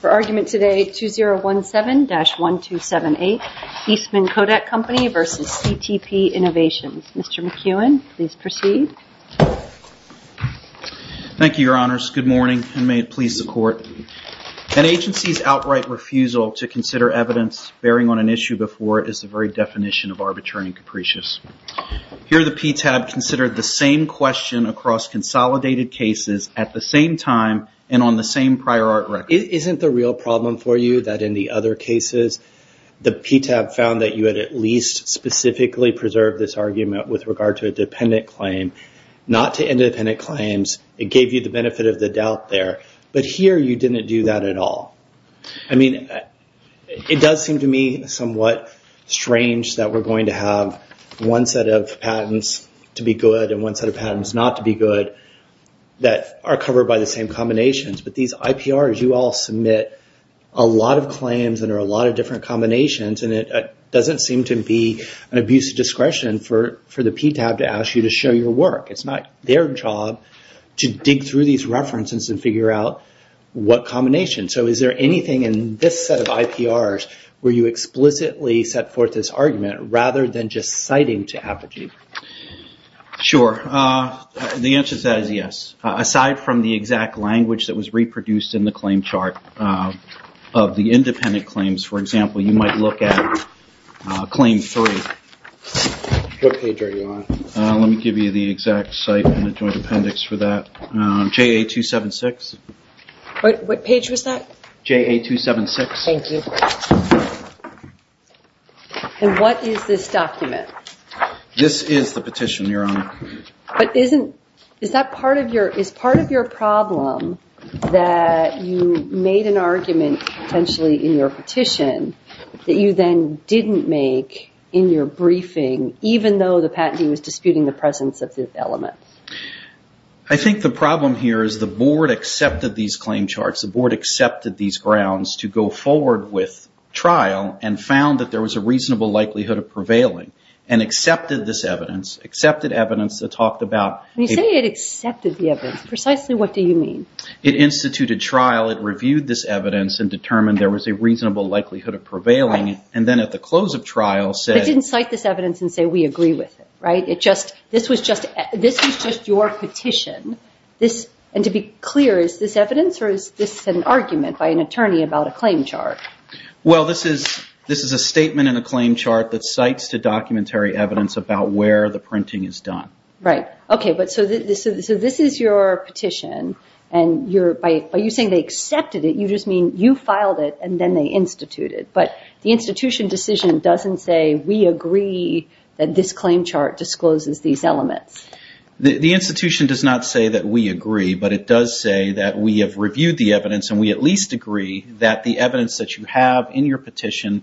For argument today, 2017-1278 Eastman Kodak Company v. CTP Innovations. Mr. McEwen, please proceed. Thank you, your honors. Good morning, and may it please the court. An agency's outright refusal to consider evidence bearing on an issue before it is the very definition of arbitrary and capricious. Here, the PTAB considered the same question across consolidated cases at the same time and on the same prior art record. Isn't the real problem for you that in the other cases, the PTAB found that you had at least specifically preserved this argument with regard to a dependent claim, not to independent claims. It gave you the benefit of the doubt there, but here you didn't do that at all. I mean, it does seem to me somewhat strange that we're going to have one set of patents to be good and one set of patents not to be good that are covered by the same combinations, but these IPRs, you all submit a lot of claims that are a lot of different combinations, and it doesn't seem to be an abuse of discretion for the PTAB to ask you to show your work. It's not their job to dig through these references and figure out what combination. So is there anything in this set of IPRs where you explicitly set forth this argument rather than just citing to Apogee? Sure. The answer to that is yes. Aside from the exact language that was reproduced in the claim chart of the independent claims, for example, you might look at claim three. What page are you on? Let me give you the exact site and the joint appendix for that. JA276. What page was that? JA276. Thank you. And what is this document? This is the petition, Your Honor. But is that part of your problem that you made an argument potentially in your petition that you then didn't make in your briefing, even though the patentee was disputing the presence of this element? I think the problem here is the board accepted these claim charts, the board accepted these grounds to go forward with trial and found that there was a reasonable likelihood of prevailing and accepted this evidence, accepted evidence that talked about... When you say it accepted the evidence, precisely what do you mean? It instituted trial, it reviewed this evidence and determined there was a reasonable likelihood of prevailing, and then at the close of trial said... It didn't cite this evidence and say, we agree with it. This was just your petition. And to be clear, is this evidence or is this an argument by an attorney about a claim chart? Well, this is a statement in a claim chart that cites the documentary evidence about where the printing is done. Right. Okay. So this is your petition and by you saying they accepted it, you just mean you filed it and then they instituted. But the institution decision doesn't say, we agree that this claim chart discloses these elements. The institution does not say that we agree, but it does say that we have reviewed the evidence and we at least agree that the evidence that you have in your petition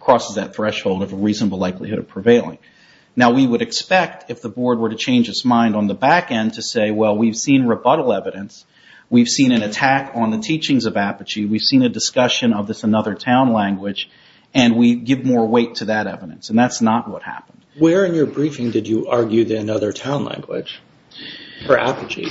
crosses that threshold of a reasonable likelihood of prevailing. Now we would expect if the board were to change its mind on the back end to say, well, we've seen rebuttal evidence, we've seen an attack on the teachings of Apogee, we've seen a discussion of this Another Town language and we give more weight to that evidence. And that's not what happened. Where in your briefing did you argue the Another Town language for Apogee?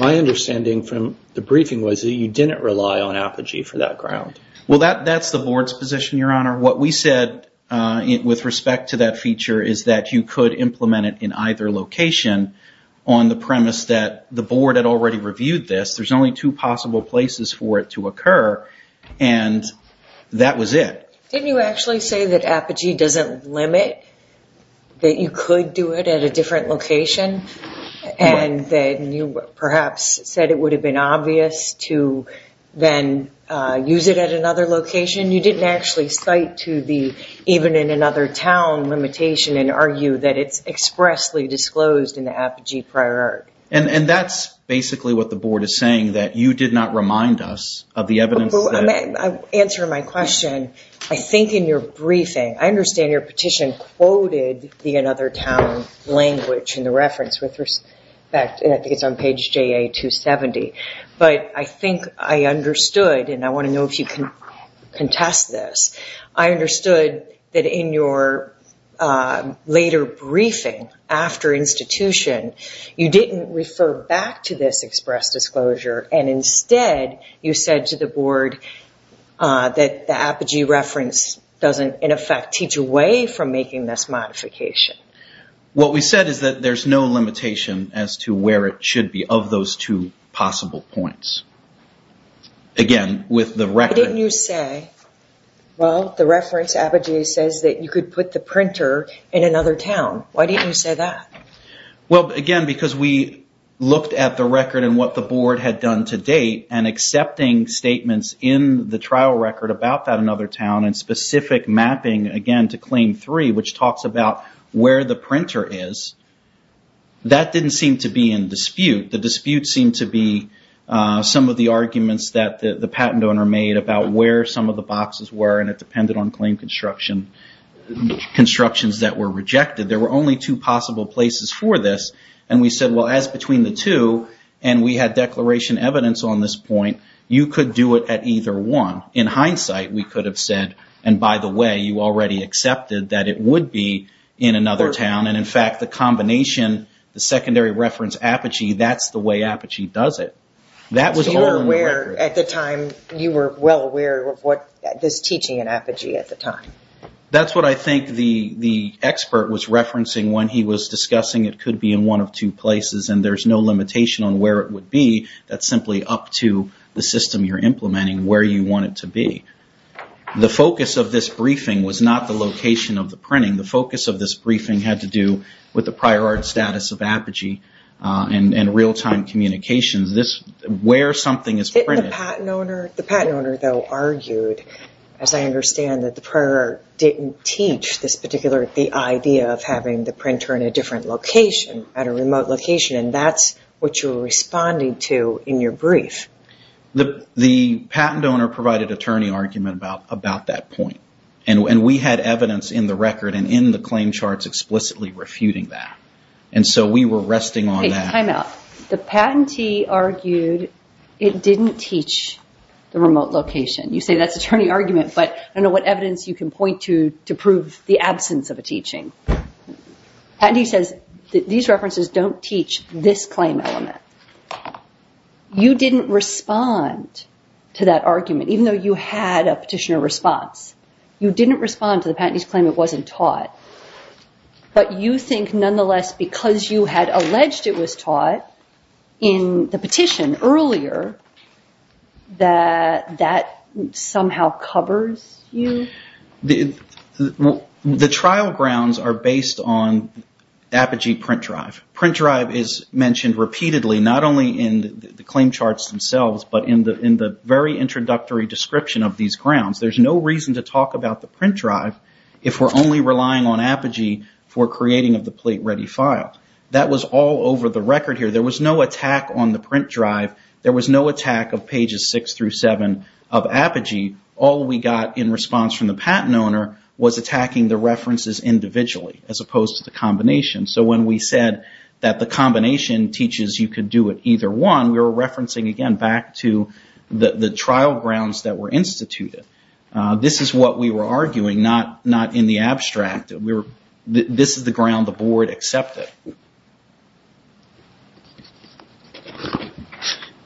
My understanding from the briefing was that you didn't rely on Apogee for that ground. Well, that's the board's position, Your Honor. What we said with respect to that feature is that you could implement it in either location on the premise that the board had already reviewed this. There's only two possible places for it to occur. And that was it. Didn't you actually say that Apogee doesn't limit that you could do it at a different location and that you perhaps said it would have been obvious to then use it at another location? You didn't actually cite to the even in Another Town limitation and argue that it's expressly disclosed in the Apogee prior. And that's basically what the board is saying, that you did not remind us of the evidence. I'll answer my question. I think in your briefing, I understand your petition quoted the Another Town language in the reference with respect, and I think it's on page JA-270. But I think I understood, and I want to know if you can contest this. I understood that in your later briefing after institution, you didn't refer back to this express disclosure. And instead, you said to the board that the Apogee reference doesn't, in effect, teach away from making this modification. What we said is that there's no limitation as to where it should be of those two possible points. Again, with the record... Why didn't you say, well, the reference Apogee says that you could put the printer in Another Town. Why didn't you say that? Well, again, because we looked at the record and what the board had done to date and accepting statements in the trial record about that Another Town and specific mapping, again, to claim three, which talks about where the printer is. That didn't seem to be in dispute. The dispute seemed to be some of the arguments that the patent owner made about where some of the boxes were, and it depended on claim constructions that were rejected. There were only two possible places for this. And we said, well, as between the two, and we had declaration evidence on this point, you could do it at either one. In hindsight, we could have said, and by the way, you already accepted that it would be in Another Town. And in fact, the combination, the secondary reference Apogee, that's the way Apogee does it. That was all in the record. At the time, you were well aware of this teaching in Apogee at the time. That's what I think the expert was referencing when he was discussing it could be in one of two places, and there's no limitation on where it would be. That's simply up to the system you're implementing where you want it to be. The focus of this briefing was not the location of the printing. The focus of this briefing had to do with the prior art status of Apogee and real-time communications where something is printed. The patent owner, though, argued, as I understand, that the prior art didn't teach this particular idea of having the printer in a different location, at a remote location, and that's what you were responding to in your brief. The patent owner provided a turning argument about that point. And we had evidence in the record and in the claim charts explicitly refuting that. And so we were resting on that. Time out. The patentee argued it didn't teach the remote location. You say that's a turning argument, but I don't know what evidence you can point to to prove the absence of a teaching. Patentee says these references don't teach this claim element. You didn't respond to that argument, even though you had a petitioner response. You didn't respond to the patentee's claim it wasn't taught. But you think, nonetheless, because you had alleged it was taught in the petition earlier, that that somehow covers you? The trial grounds are based on Apogee print drive. Print drive is mentioned repeatedly, not only in the claim charts themselves, but in the very introductory description of these Apogee for creating of the plate ready file. That was all over the record here. There was no attack on the print drive. There was no attack of pages 6 through 7 of Apogee. All we got in response from the patent owner was attacking the references individually, as opposed to the combination. So when we said that the combination teaches you could do it either one, we were referencing again back to the trial grounds that were instituted. This is what we were arguing, not in the abstract. This is the ground the board accepted.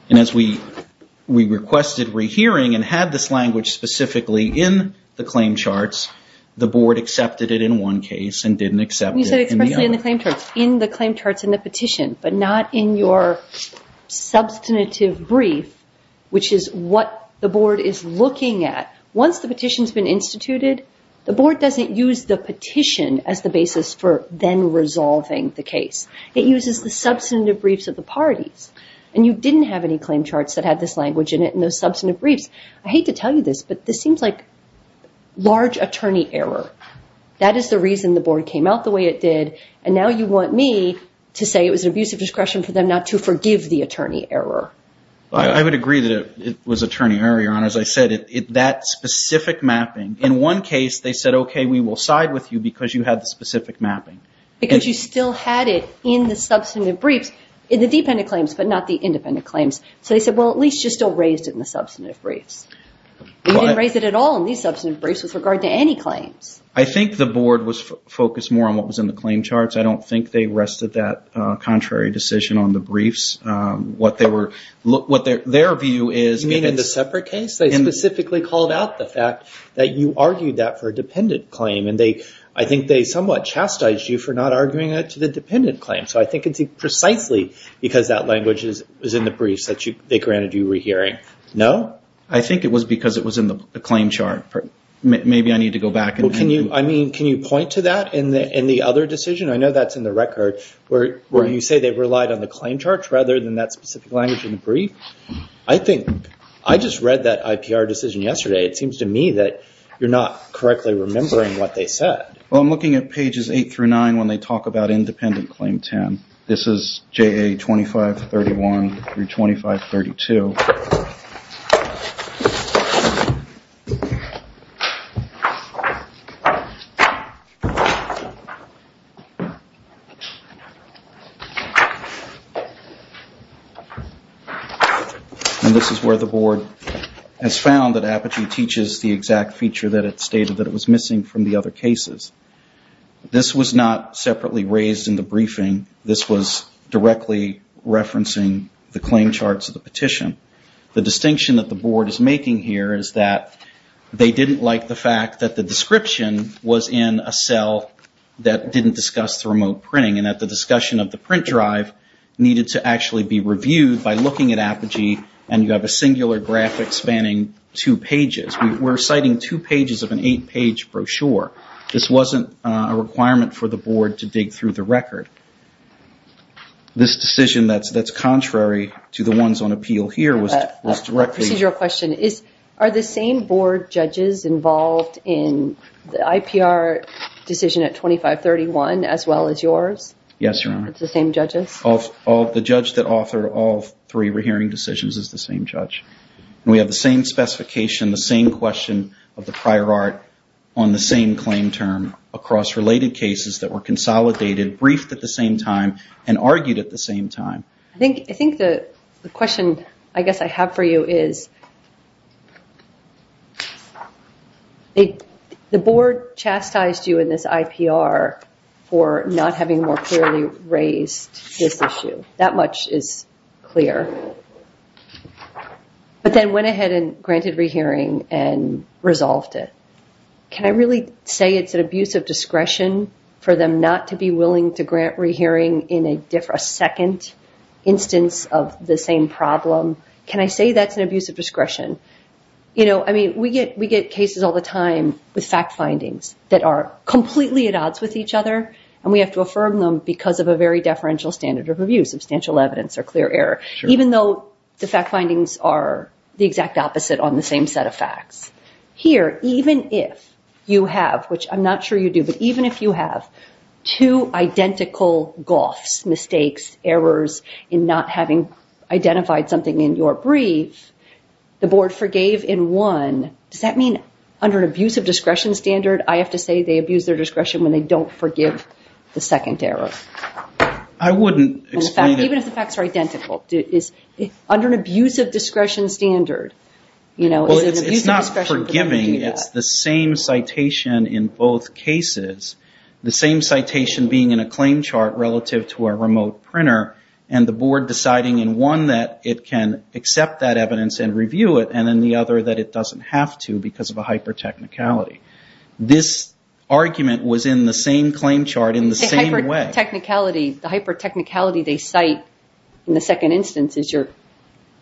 And as we requested rehearing and had this language specifically in the claim charts, the board accepted it in one case and didn't accept it in the other. You said explicitly in the claim charts, in the claim charts in the petition, but not in your substantive brief, which is what the board is looking at. Once the petition has been instituted, the board doesn't use the petition as the basis for then resolving the case. It uses the substantive briefs of the parties. And you didn't have any claim charts that had this language in it and those substantive briefs. I hate to tell you this, but this seems like large attorney error. That is the reason the board came out the way it did. And now you want me to say it was an abuse of discretion for them not to forgive the attorney error. I would agree that it was attorney error, Your Honor. As I said, that specific mapping. In one case, they said, okay, we will side with you because you had the specific mapping. Because you still had it in the substantive briefs, in the dependent claims, but not the independent claims. So they said, well, at least you still raised it in the substantive briefs. You didn't raise it at all in these substantive briefs with regard to any claims. I think the board was focused more on what was in the claim charts. I don't think they rested that contrary decision on the briefs. What their view is... You mean in the separate case? They specifically called out the fact that you argued that for a dependent claim. And I think they somewhat chastised you for not arguing that to the dependent claim. So I think it's precisely because that language is in the briefs that they granted you were hearing. No? I think it was because it was in the claim chart. Maybe I need to go back and... Can you point to that in the other decision? I know that's in the record, where you say they relied on the claim charts rather than that specific language in the brief. I just read that IPR decision yesterday. It seems to me that you're not correctly remembering what they said. Well, I'm looking at pages eight through nine and this is where the board has found that Apogee teaches the exact feature that it stated that it was missing from the other cases. This was not separately raised in the briefing. This was directly referencing the claim charts of the petition. The distinction that the board is making here is that they didn't like the fact that the description was in a cell that didn't discuss the remote printing and that the discussion of the print drive needed to actually be reviewed by looking at Apogee and you have a singular graphic spanning two pages. We're citing two pages of an eight-page brochure. This wasn't a requirement for the board to dig through the record. This decision that's contrary to the ones on appeal here was directly... As well as yours? Yes, Your Honor. It's the same judges? The judge that authored all three rehearing decisions is the same judge. We have the same specification, the same question of the prior art on the same claim term across related cases that were consolidated, briefed at the same time and argued at the same time. I think the question I guess I have for you is this. The board chastised you in this IPR for not having more clearly raised this issue. That much is clear. But then went ahead and granted rehearing and resolved it. Can I really say it's an abuse of discretion for them not to be willing to grant rehearing in a second instance of the same problem? Can I say that's an abuse of discretion? We get cases all the time with fact findings that are completely at odds with each other and we have to affirm them because of a very deferential standard of review, substantial evidence or clear error. Even though the fact findings are the exact opposite on the same set of facts. Here, even if you have, which I'm not sure you do, but even if you have two identical goths, mistakes, errors in not having identified something in your brief, the board forgave in one. Does that mean under an abuse of discretion standard, I have to say they abuse their discretion when they don't forgive the second error? I wouldn't explain it. Even if the facts are identical. Under an abuse of discretion standard. It's not forgiving. It's the same citation in both cases. The same citation being in a claim chart relative to a remote printer and the board deciding in one that it can accept that evidence and review it and in the other that it doesn't have to because of a hyper-technicality. This argument was in the same claim chart in the same way. The hyper-technicality they cite in the second instance is your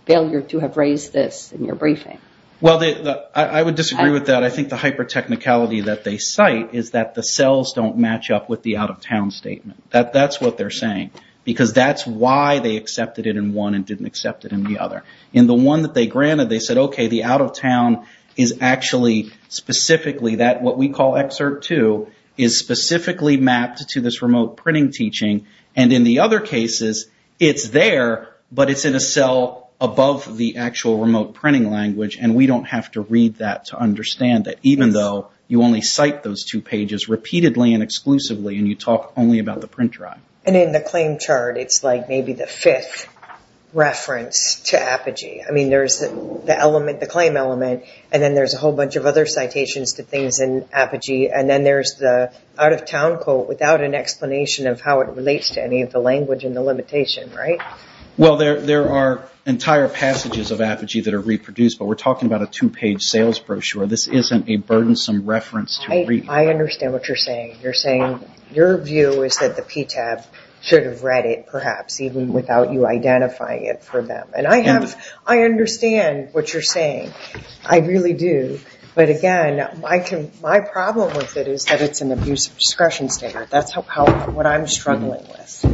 failure to have raised this in your briefing. I would disagree with that. I think the hyper-technicality that they cite is that the cells don't match up with the out of town statement. That's what they're saying. That's why they accepted it in one and didn't accept it in the other. In the one that they granted, they said, okay, the out of town is actually specifically that what we call excerpt two is specifically mapped to this remote printing teaching. In the other cases, it's there, but it's in a cell above the actual remote printing language. We don't have to read that to understand that even though you only cite those two pages repeatedly and exclusively and you talk only about the print drive. In the claim chart, it's like maybe the fifth reference to Apogee. There's the claim element and then there's a whole bunch of other citations to things in Apogee and then there's the out of town quote without an explanation of how it relates to any of the language and the limitation, right? Well, there are entire passages of Apogee that are reproduced, but we're talking about a two-page sales brochure. This isn't a burdensome reference to read. I understand what you're saying. You're saying your view is that the PTAB should have read it perhaps even without you identifying it for them. I understand what you're saying. I really do, but again, my problem with it is that it's an abuse of discretion standard. That's what I'm struggling with.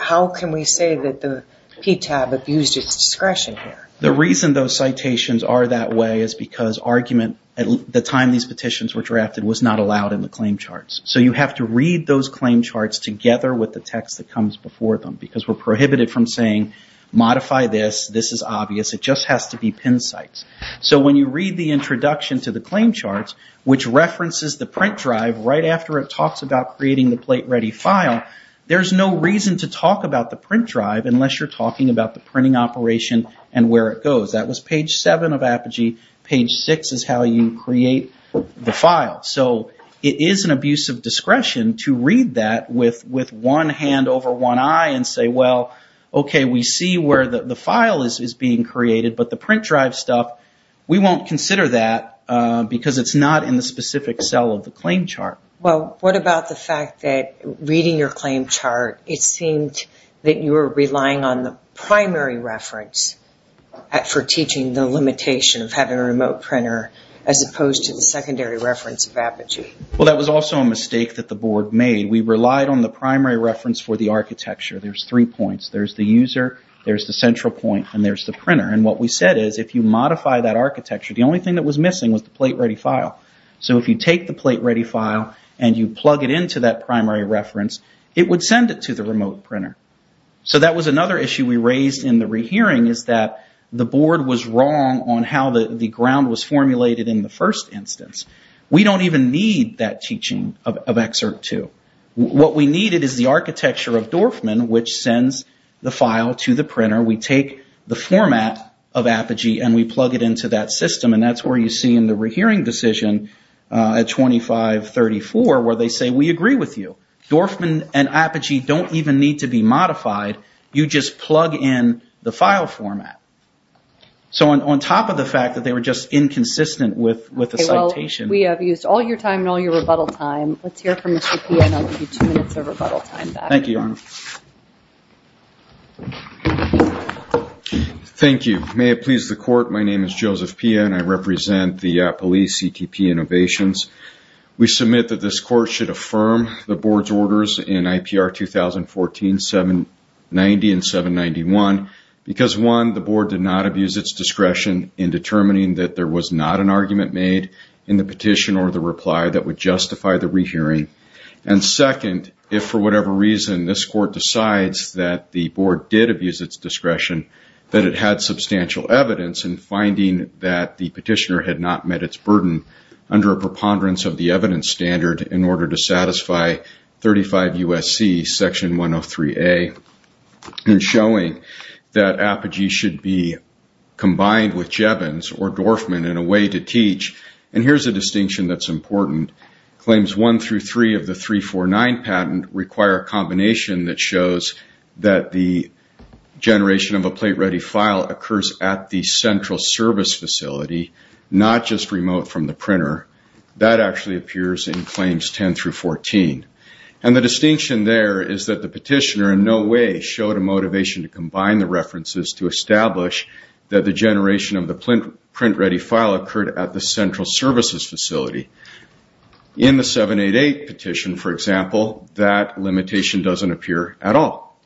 How can we say that the PTAB abused its discretion here? The reason those citations are that way is argument at the time these petitions were drafted was not allowed in the claim charts. So you have to read those claim charts together with the text that comes before them because we're prohibited from saying modify this, this is obvious. It just has to be pin sites. So when you read the introduction to the claim charts, which references the print drive right after it talks about creating the plate ready file, there's no reason to talk about the print drive unless you're talking about the printing operation and where it goes. That was page 7 of Apogee. Page 6 is how you create the file. So it is an abuse of discretion to read that with one hand over one eye and say, well, okay, we see where the file is being created, but the print drive stuff, we won't consider that because it's not in the specific cell of the claim chart. Well, what about the fact that reading your teaching, the limitation of having a remote printer as opposed to the secondary reference of Apogee? Well, that was also a mistake that the board made. We relied on the primary reference for the architecture. There's three points. There's the user, there's the central point, and there's the printer. And what we said is if you modify that architecture, the only thing that was missing was the plate ready file. So if you take the plate ready file and you plug it into that primary reference, it would send it to the remote printer. So that was another issue we raised in the rehearing is that the board was wrong on how the ground was formulated in the first instance. We don't even need that teaching of Excerpt 2. What we needed is the architecture of Dorfman, which sends the file to the printer. We take the format of Apogee and we plug it into that system. And that's where you see in the rehearing decision at 2534 where they say, we agree with you. Dorfman and Apogee don't even need to be modified. You just plug in the file format. So on top of the fact that they were just inconsistent with the citation. Okay, well, we have used all your time and all your rebuttal time. Let's hear from Mr. Pia and I'll give you two minutes of rebuttal time back. Thank you, Your Honor. Thank you. May it please the Court, my name is Joseph Pia and I represent the police CTP Innovations. We submit that this petition should be re-heared at 1490 and 791 because one, the board did not abuse its discretion in determining that there was not an argument made in the petition or the reply that would justify the re-hearing. And second, if for whatever reason, this court decides that the board did abuse its discretion, that it had substantial evidence in finding that the petitioner had not met its burden under a preponderance of the evidence standard in order to satisfy 35 USC Section 103A and showing that Apogee should be combined with Jevons or Dorfman in a way to teach. And here's a distinction that's important. Claims one through three of the 349 patent require a combination that shows that the generation of a plate-ready file occurs at the central service facility, not just remote from the printer. That actually appears in claims 10 through 14. And the distinction there is that the petitioner in no way showed a motivation to combine the references to establish that the generation of the print-ready file occurred at the central services facility. In the 788 petition, for example, that limitation doesn't appear at all.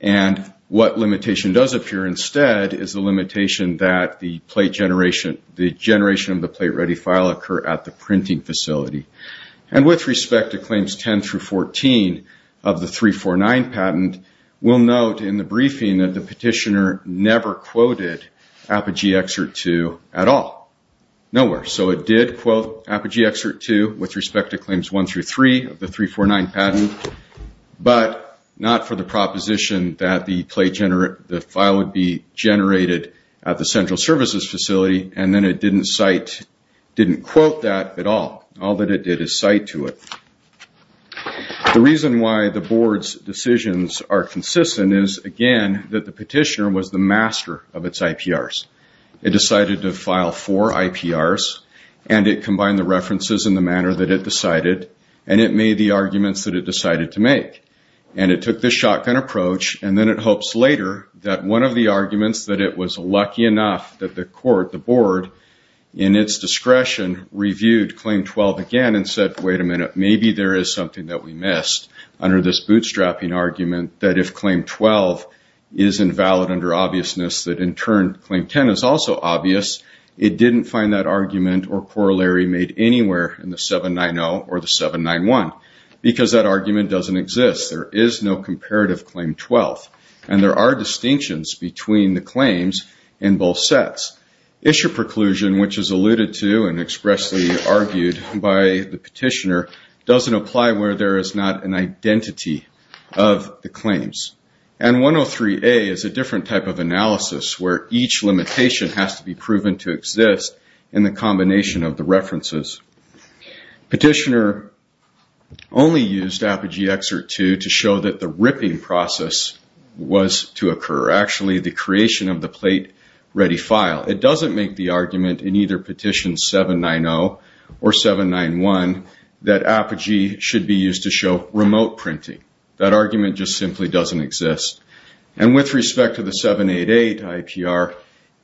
And what limitation does appear instead is the limitation that the plate generation, the generation of the plate-ready file occur at the printing facility. And with respect to claims 10 through 14 of the 349 patent, we'll note in the briefing that the petitioner never quoted Apogee Excerpt 2 at all. Nowhere. So it did quote Apogee Excerpt 2 with respect to claims one through three of the 349 patent, but not for the proposition that the file would be generated. And then it didn't cite, didn't quote that at all. All that it did is cite to it. The reason why the board's decisions are consistent is, again, that the petitioner was the master of its IPRs. It decided to file four IPRs, and it combined the references in the manner that it decided, and it made the arguments that it decided to make. And it took this shotgun approach, and then it hopes later that one of the arguments that it was lucky enough that the court, the board, in its discretion reviewed claim 12 again and said, wait a minute, maybe there is something that we missed under this bootstrapping argument that if claim 12 is invalid under obviousness, that in turn claim 10 is also obvious. It didn't find that argument or corollary made anywhere in the 790 or the 791 because that argument doesn't exist. There is no issue preclusion, which is alluded to and expressly argued by the petitioner, doesn't apply where there is not an identity of the claims. And 103A is a different type of analysis where each limitation has to be proven to exist in the combination of the references. Petitioner only used Apogee Excerpt 2 to show that the ripping process was to occur. Actually, the creation of the plate ready file. It doesn't make the argument in either petition 790 or 791 that Apogee should be used to show remote printing. That argument just simply doesn't exist. And with respect to the 788 IPR,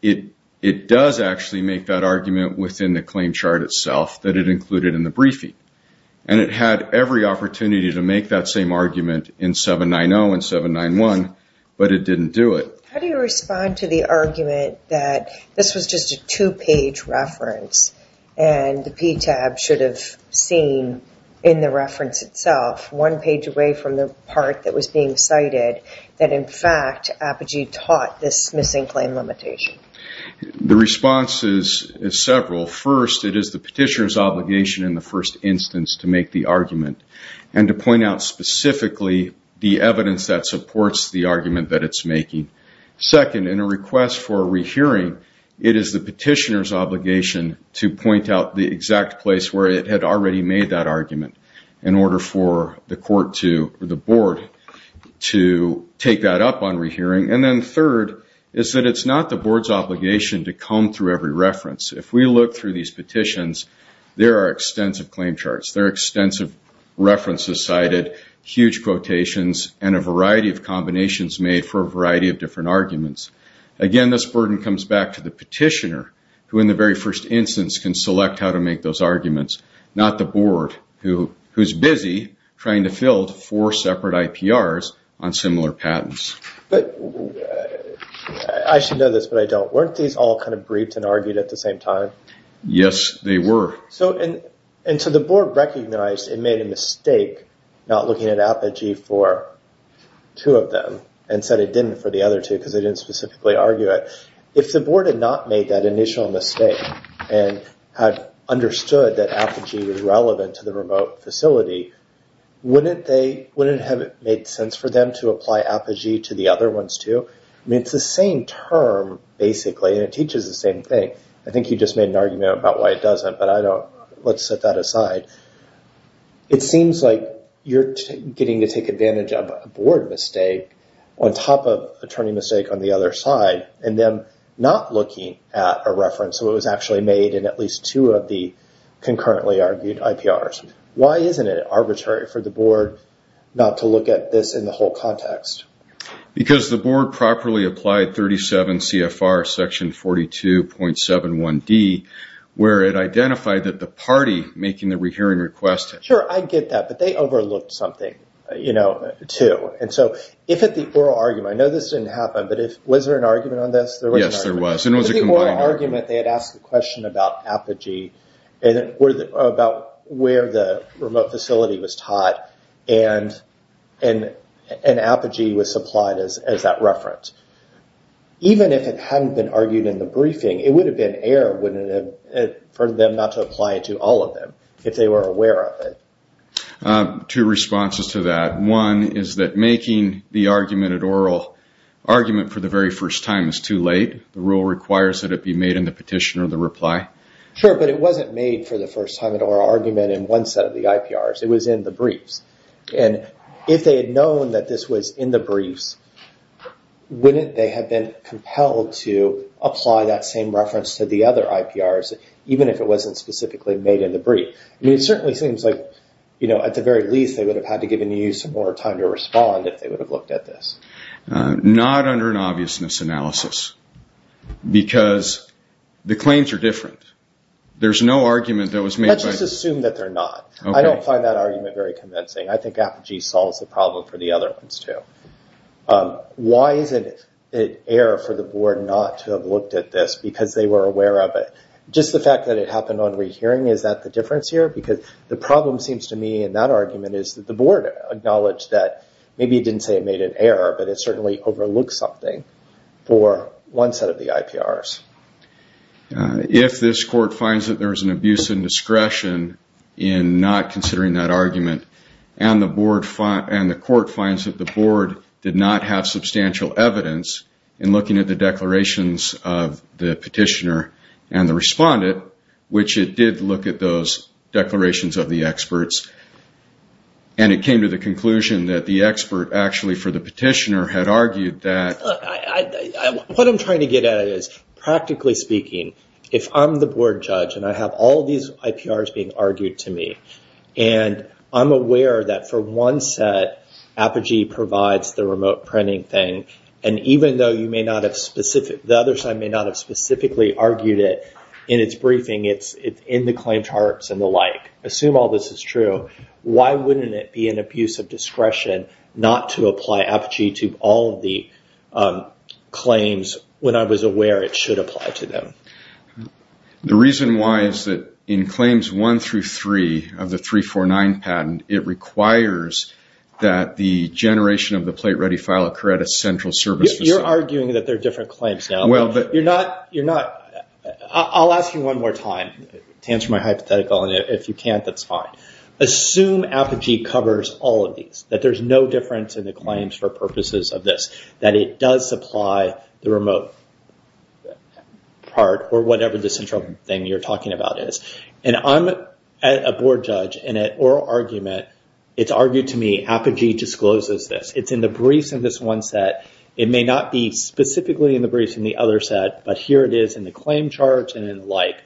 it does actually make that argument within the claim chart itself that it included in the briefing. And it had every opportunity to make that same argument in 790 and 791, but it didn't do it. How do you respond to the argument that this was just a two-page reference and the PTAB should have seen in the reference itself, one page away from the part that was being cited, that in fact Apogee taught this missing claim limitation? The response is several. First, it is the petitioner's obligation in the first instance to make the argument and to point out specifically the evidence that supports the argument that it's making. Second, in a request for a rehearing, it is the petitioner's obligation to point out the exact place where it had already made that argument in order for the court to, or the board, to take that up on rehearing. And then third is that it's not the board's obligation to comb through every reference. If we look through these petitions, there are extensive references cited, huge quotations, and a variety of combinations made for a variety of different arguments. Again, this burden comes back to the petitioner, who in the very first instance can select how to make those arguments, not the board, who's busy trying to fill four separate IPRs on similar patents. But I should know this, but I don't. Weren't these all kind of briefed and argued at the same time? Yes, they were. So the board recognized it made a mistake not looking at Apogee for two of them and said it didn't for the other two because they didn't specifically argue it. If the board had not made that initial mistake and had understood that Apogee was relevant to the remote facility, wouldn't it have made sense for them to apply Apogee to the other ones too? I mean, it's the same term, basically, and it teaches the same thing. I think you just made an argument about why it doesn't, but let's set that aside. It seems like you're getting to take advantage of a board mistake on top of attorney mistake on the other side, and then not looking at a reference so it was actually made in at least two of the concurrently argued IPRs. Why isn't it arbitrary for the board not to look at this the whole context? Because the board properly applied 37 CFR section 42.71D, where it identified that the party making the hearing request... Sure, I get that, but they overlooked something too. If at the oral argument, I know this didn't happen, but was there an argument on this? Yes, there was, and it was a combined argument. The oral argument, they had asked the question about Apogee and about where the remote facility was taught, and Apogee was supplied as that reference. Even if it hadn't been argued in the briefing, it would have been error for them not to apply it to all of them if they were aware of it. Two responses to that. One is that making the argument at oral argument for the very first time is too late. The rule requires that it be made in the petition or the reply. Sure, but it wasn't made for the first time at oral argument in one set of the IPRs. It was in the briefs. If they had known that this was in the briefs, wouldn't they have been compelled to apply that same reference to the other IPRs, even if it wasn't specifically made in the brief? It certainly seems like at the very least, they would have had to given you some more time to respond if they would have looked at this. Not under an obviousness analysis, because the claims are different. There's no argument that was made by... Let's just assume that they're not. I don't find that argument very convincing. I think Apogee solves the problem for the other ones too. Why is it error for the board not to have looked at this because they were aware of it? Just the fact that it happened on rehearing, is that the difference here? Because the problem seems to me in that argument is that the board acknowledged that maybe it didn't say it made an error, but it certainly overlooked something for one set of the IPRs. If this court finds that there was an abuse of discretion in not considering that argument, and the court finds that the board did not have substantial evidence in looking at the declarations of the petitioner and the respondent, which it did look at those declarations of the experts, and it came to the conclusion that the expert actually for the petitioner had argued that... What I'm trying to get at is, practically speaking, if I'm the board judge and I have all these IPRs being argued to me, and I'm aware that for one set, Apogee provides the remote printing thing, and even though the other side may not have charts and the like, assume all this is true, why wouldn't it be an abuse of discretion not to apply Apogee to all of the claims when I was aware it should apply to them? The reason why is that in claims one through three of the 349 patent, it requires that the generation of the plate-ready file occur at a central service facility. You're arguing that they're different claims now. But you're not... I'll ask you one more time to answer my hypothetical, and if you can't, that's fine. Assume Apogee covers all of these, that there's no difference in the claims for purposes of this, that it does supply the remote part or whatever the central thing you're talking about is. I'm a board judge, and at oral argument, it's argued to me Apogee discloses this. It's in the briefs in this one set. It may not be specifically in the briefs in the other set, but here it is in the claim charts and the like.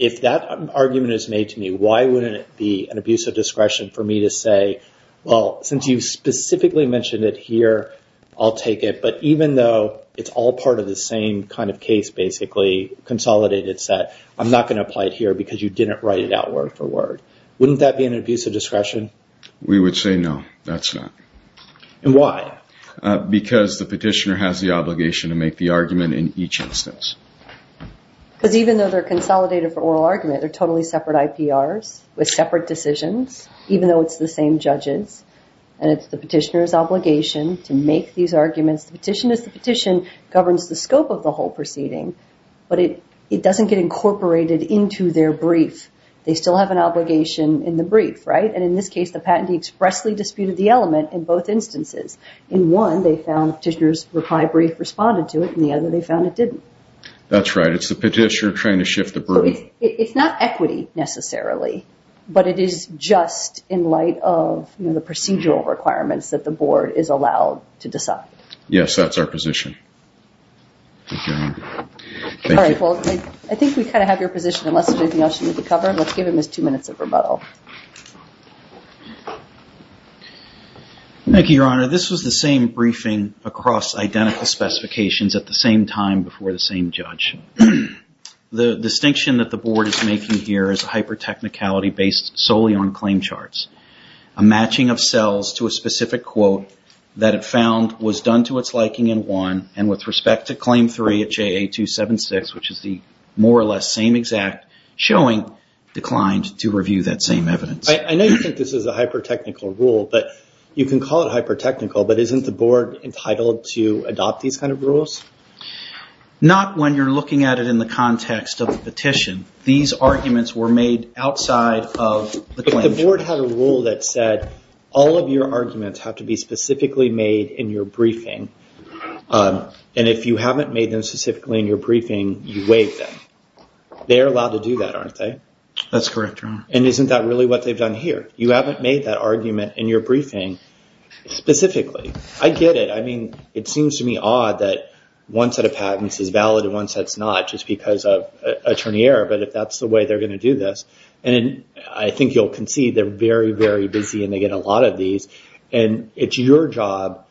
If that argument is made to me, why wouldn't it be an abuse of discretion for me to say, well, since you specifically mentioned it here, I'll take it. But even though it's all part of the same kind of case, basically, consolidated set, I'm not going to apply it here because you didn't write it out word for word. Wouldn't that be an abuse of discretion? We would say no, that's not. And why? Because the petitioner has the obligation to make the argument in each instance. Because even though they're consolidated for oral argument, they're totally separate IPRs with separate decisions, even though it's the same judges, and it's the petitioner's obligation to make these arguments. The petition is the petition, governs the scope of the whole proceeding, but it doesn't get incorporated into their brief. They still have an obligation in the brief, and in this case, the patentee expressly disputed the element in both instances. In one, they found the petitioner's reply brief responded to it, and the other, they found it didn't. That's right. It's the petitioner trying to shift the burden. It's not equity necessarily, but it is just in light of the procedural requirements that the board is allowed to decide. Yes, that's our position. I think we kind of have your position, unless there's anything else you need to cover. Let's give him his two minutes of rebuttal. Thank you, Your Honor. This was the same briefing across identical specifications at the same time before the same judge. The distinction that the board is making here is hyper-technicality based solely on claim charts. A matching of cells to a specific quote that it found was done to its liking in one, and with respect to claim three at JA-276, which is the more or less same exact, showing declined to review that same evidence. I know you think this is a hyper-technical rule, but you can call it hyper-technical, but isn't the board entitled to adopt these kind of rules? Not when you're looking at it in the context of the petition. These arguments were made outside of the claim chart. If the board had a rule that said, all of your arguments have to be specifically made in your briefing, and if you haven't made them specifically in your briefing, you waive them. They're allowed to do that, aren't they? That's correct, Your Honor. And isn't that really what they've done here? You haven't made that argument in your briefing specifically. I get it. It seems to me odd that one set of patents is valid and one set's not, just because of attorney error, but if that's the way they're going to do this. I think you'll concede they're very, very busy and they get a lot of these, and it's your job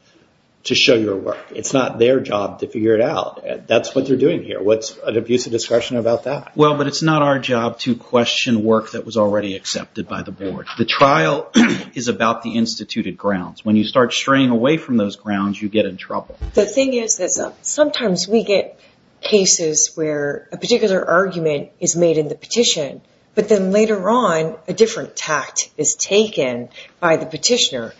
to show your work. It's not their job to figure it out. That's what you're doing here. What's an abusive discretion about that? Well, but it's not our job to question work that was already accepted by the board. The trial is about the instituted grounds. When you start straying away from those grounds, you get in trouble. The thing is that sometimes we get cases where a particular argument is made in the petition, but then later on, a different tact is taken by the petitioner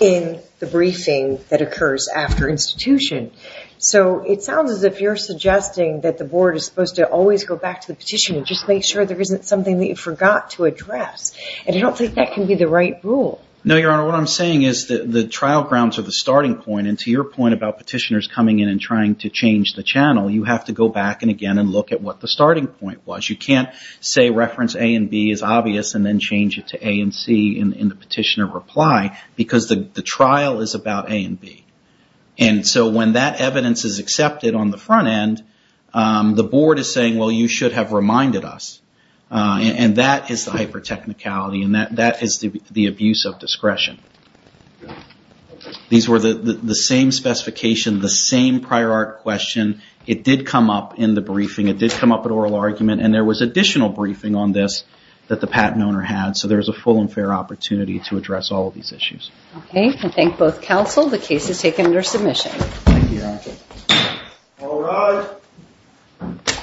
in the briefing that occurs after institution. So it sounds as if you're suggesting that the board is supposed to always go back to the petitioner, just make sure there isn't something that you forgot to address. And I don't think that can be the right rule. No, Your Honor. What I'm saying is that the trial grounds are the starting point, and to your point about petitioners coming in and trying to change the channel, you have to go back and again and look at what the starting point was. You can't say reference A and B is obvious and then change it to A and C in the petitioner reply, because the trial is about A and B. And so when that evidence is accepted on the front end, the board is saying, well, you should have reminded us. And that is the hyper-technicality, and that is the abuse of discretion. These were the same specification, the same prior art question. It did come up in the briefing. It did come up at oral argument, and there was additional briefing on this that the patent owner had. So there was a full and fair opportunity to address all of these issues. Okay. I thank both counsel. The case is taken under submission. Thank you, Your Honor. All rise.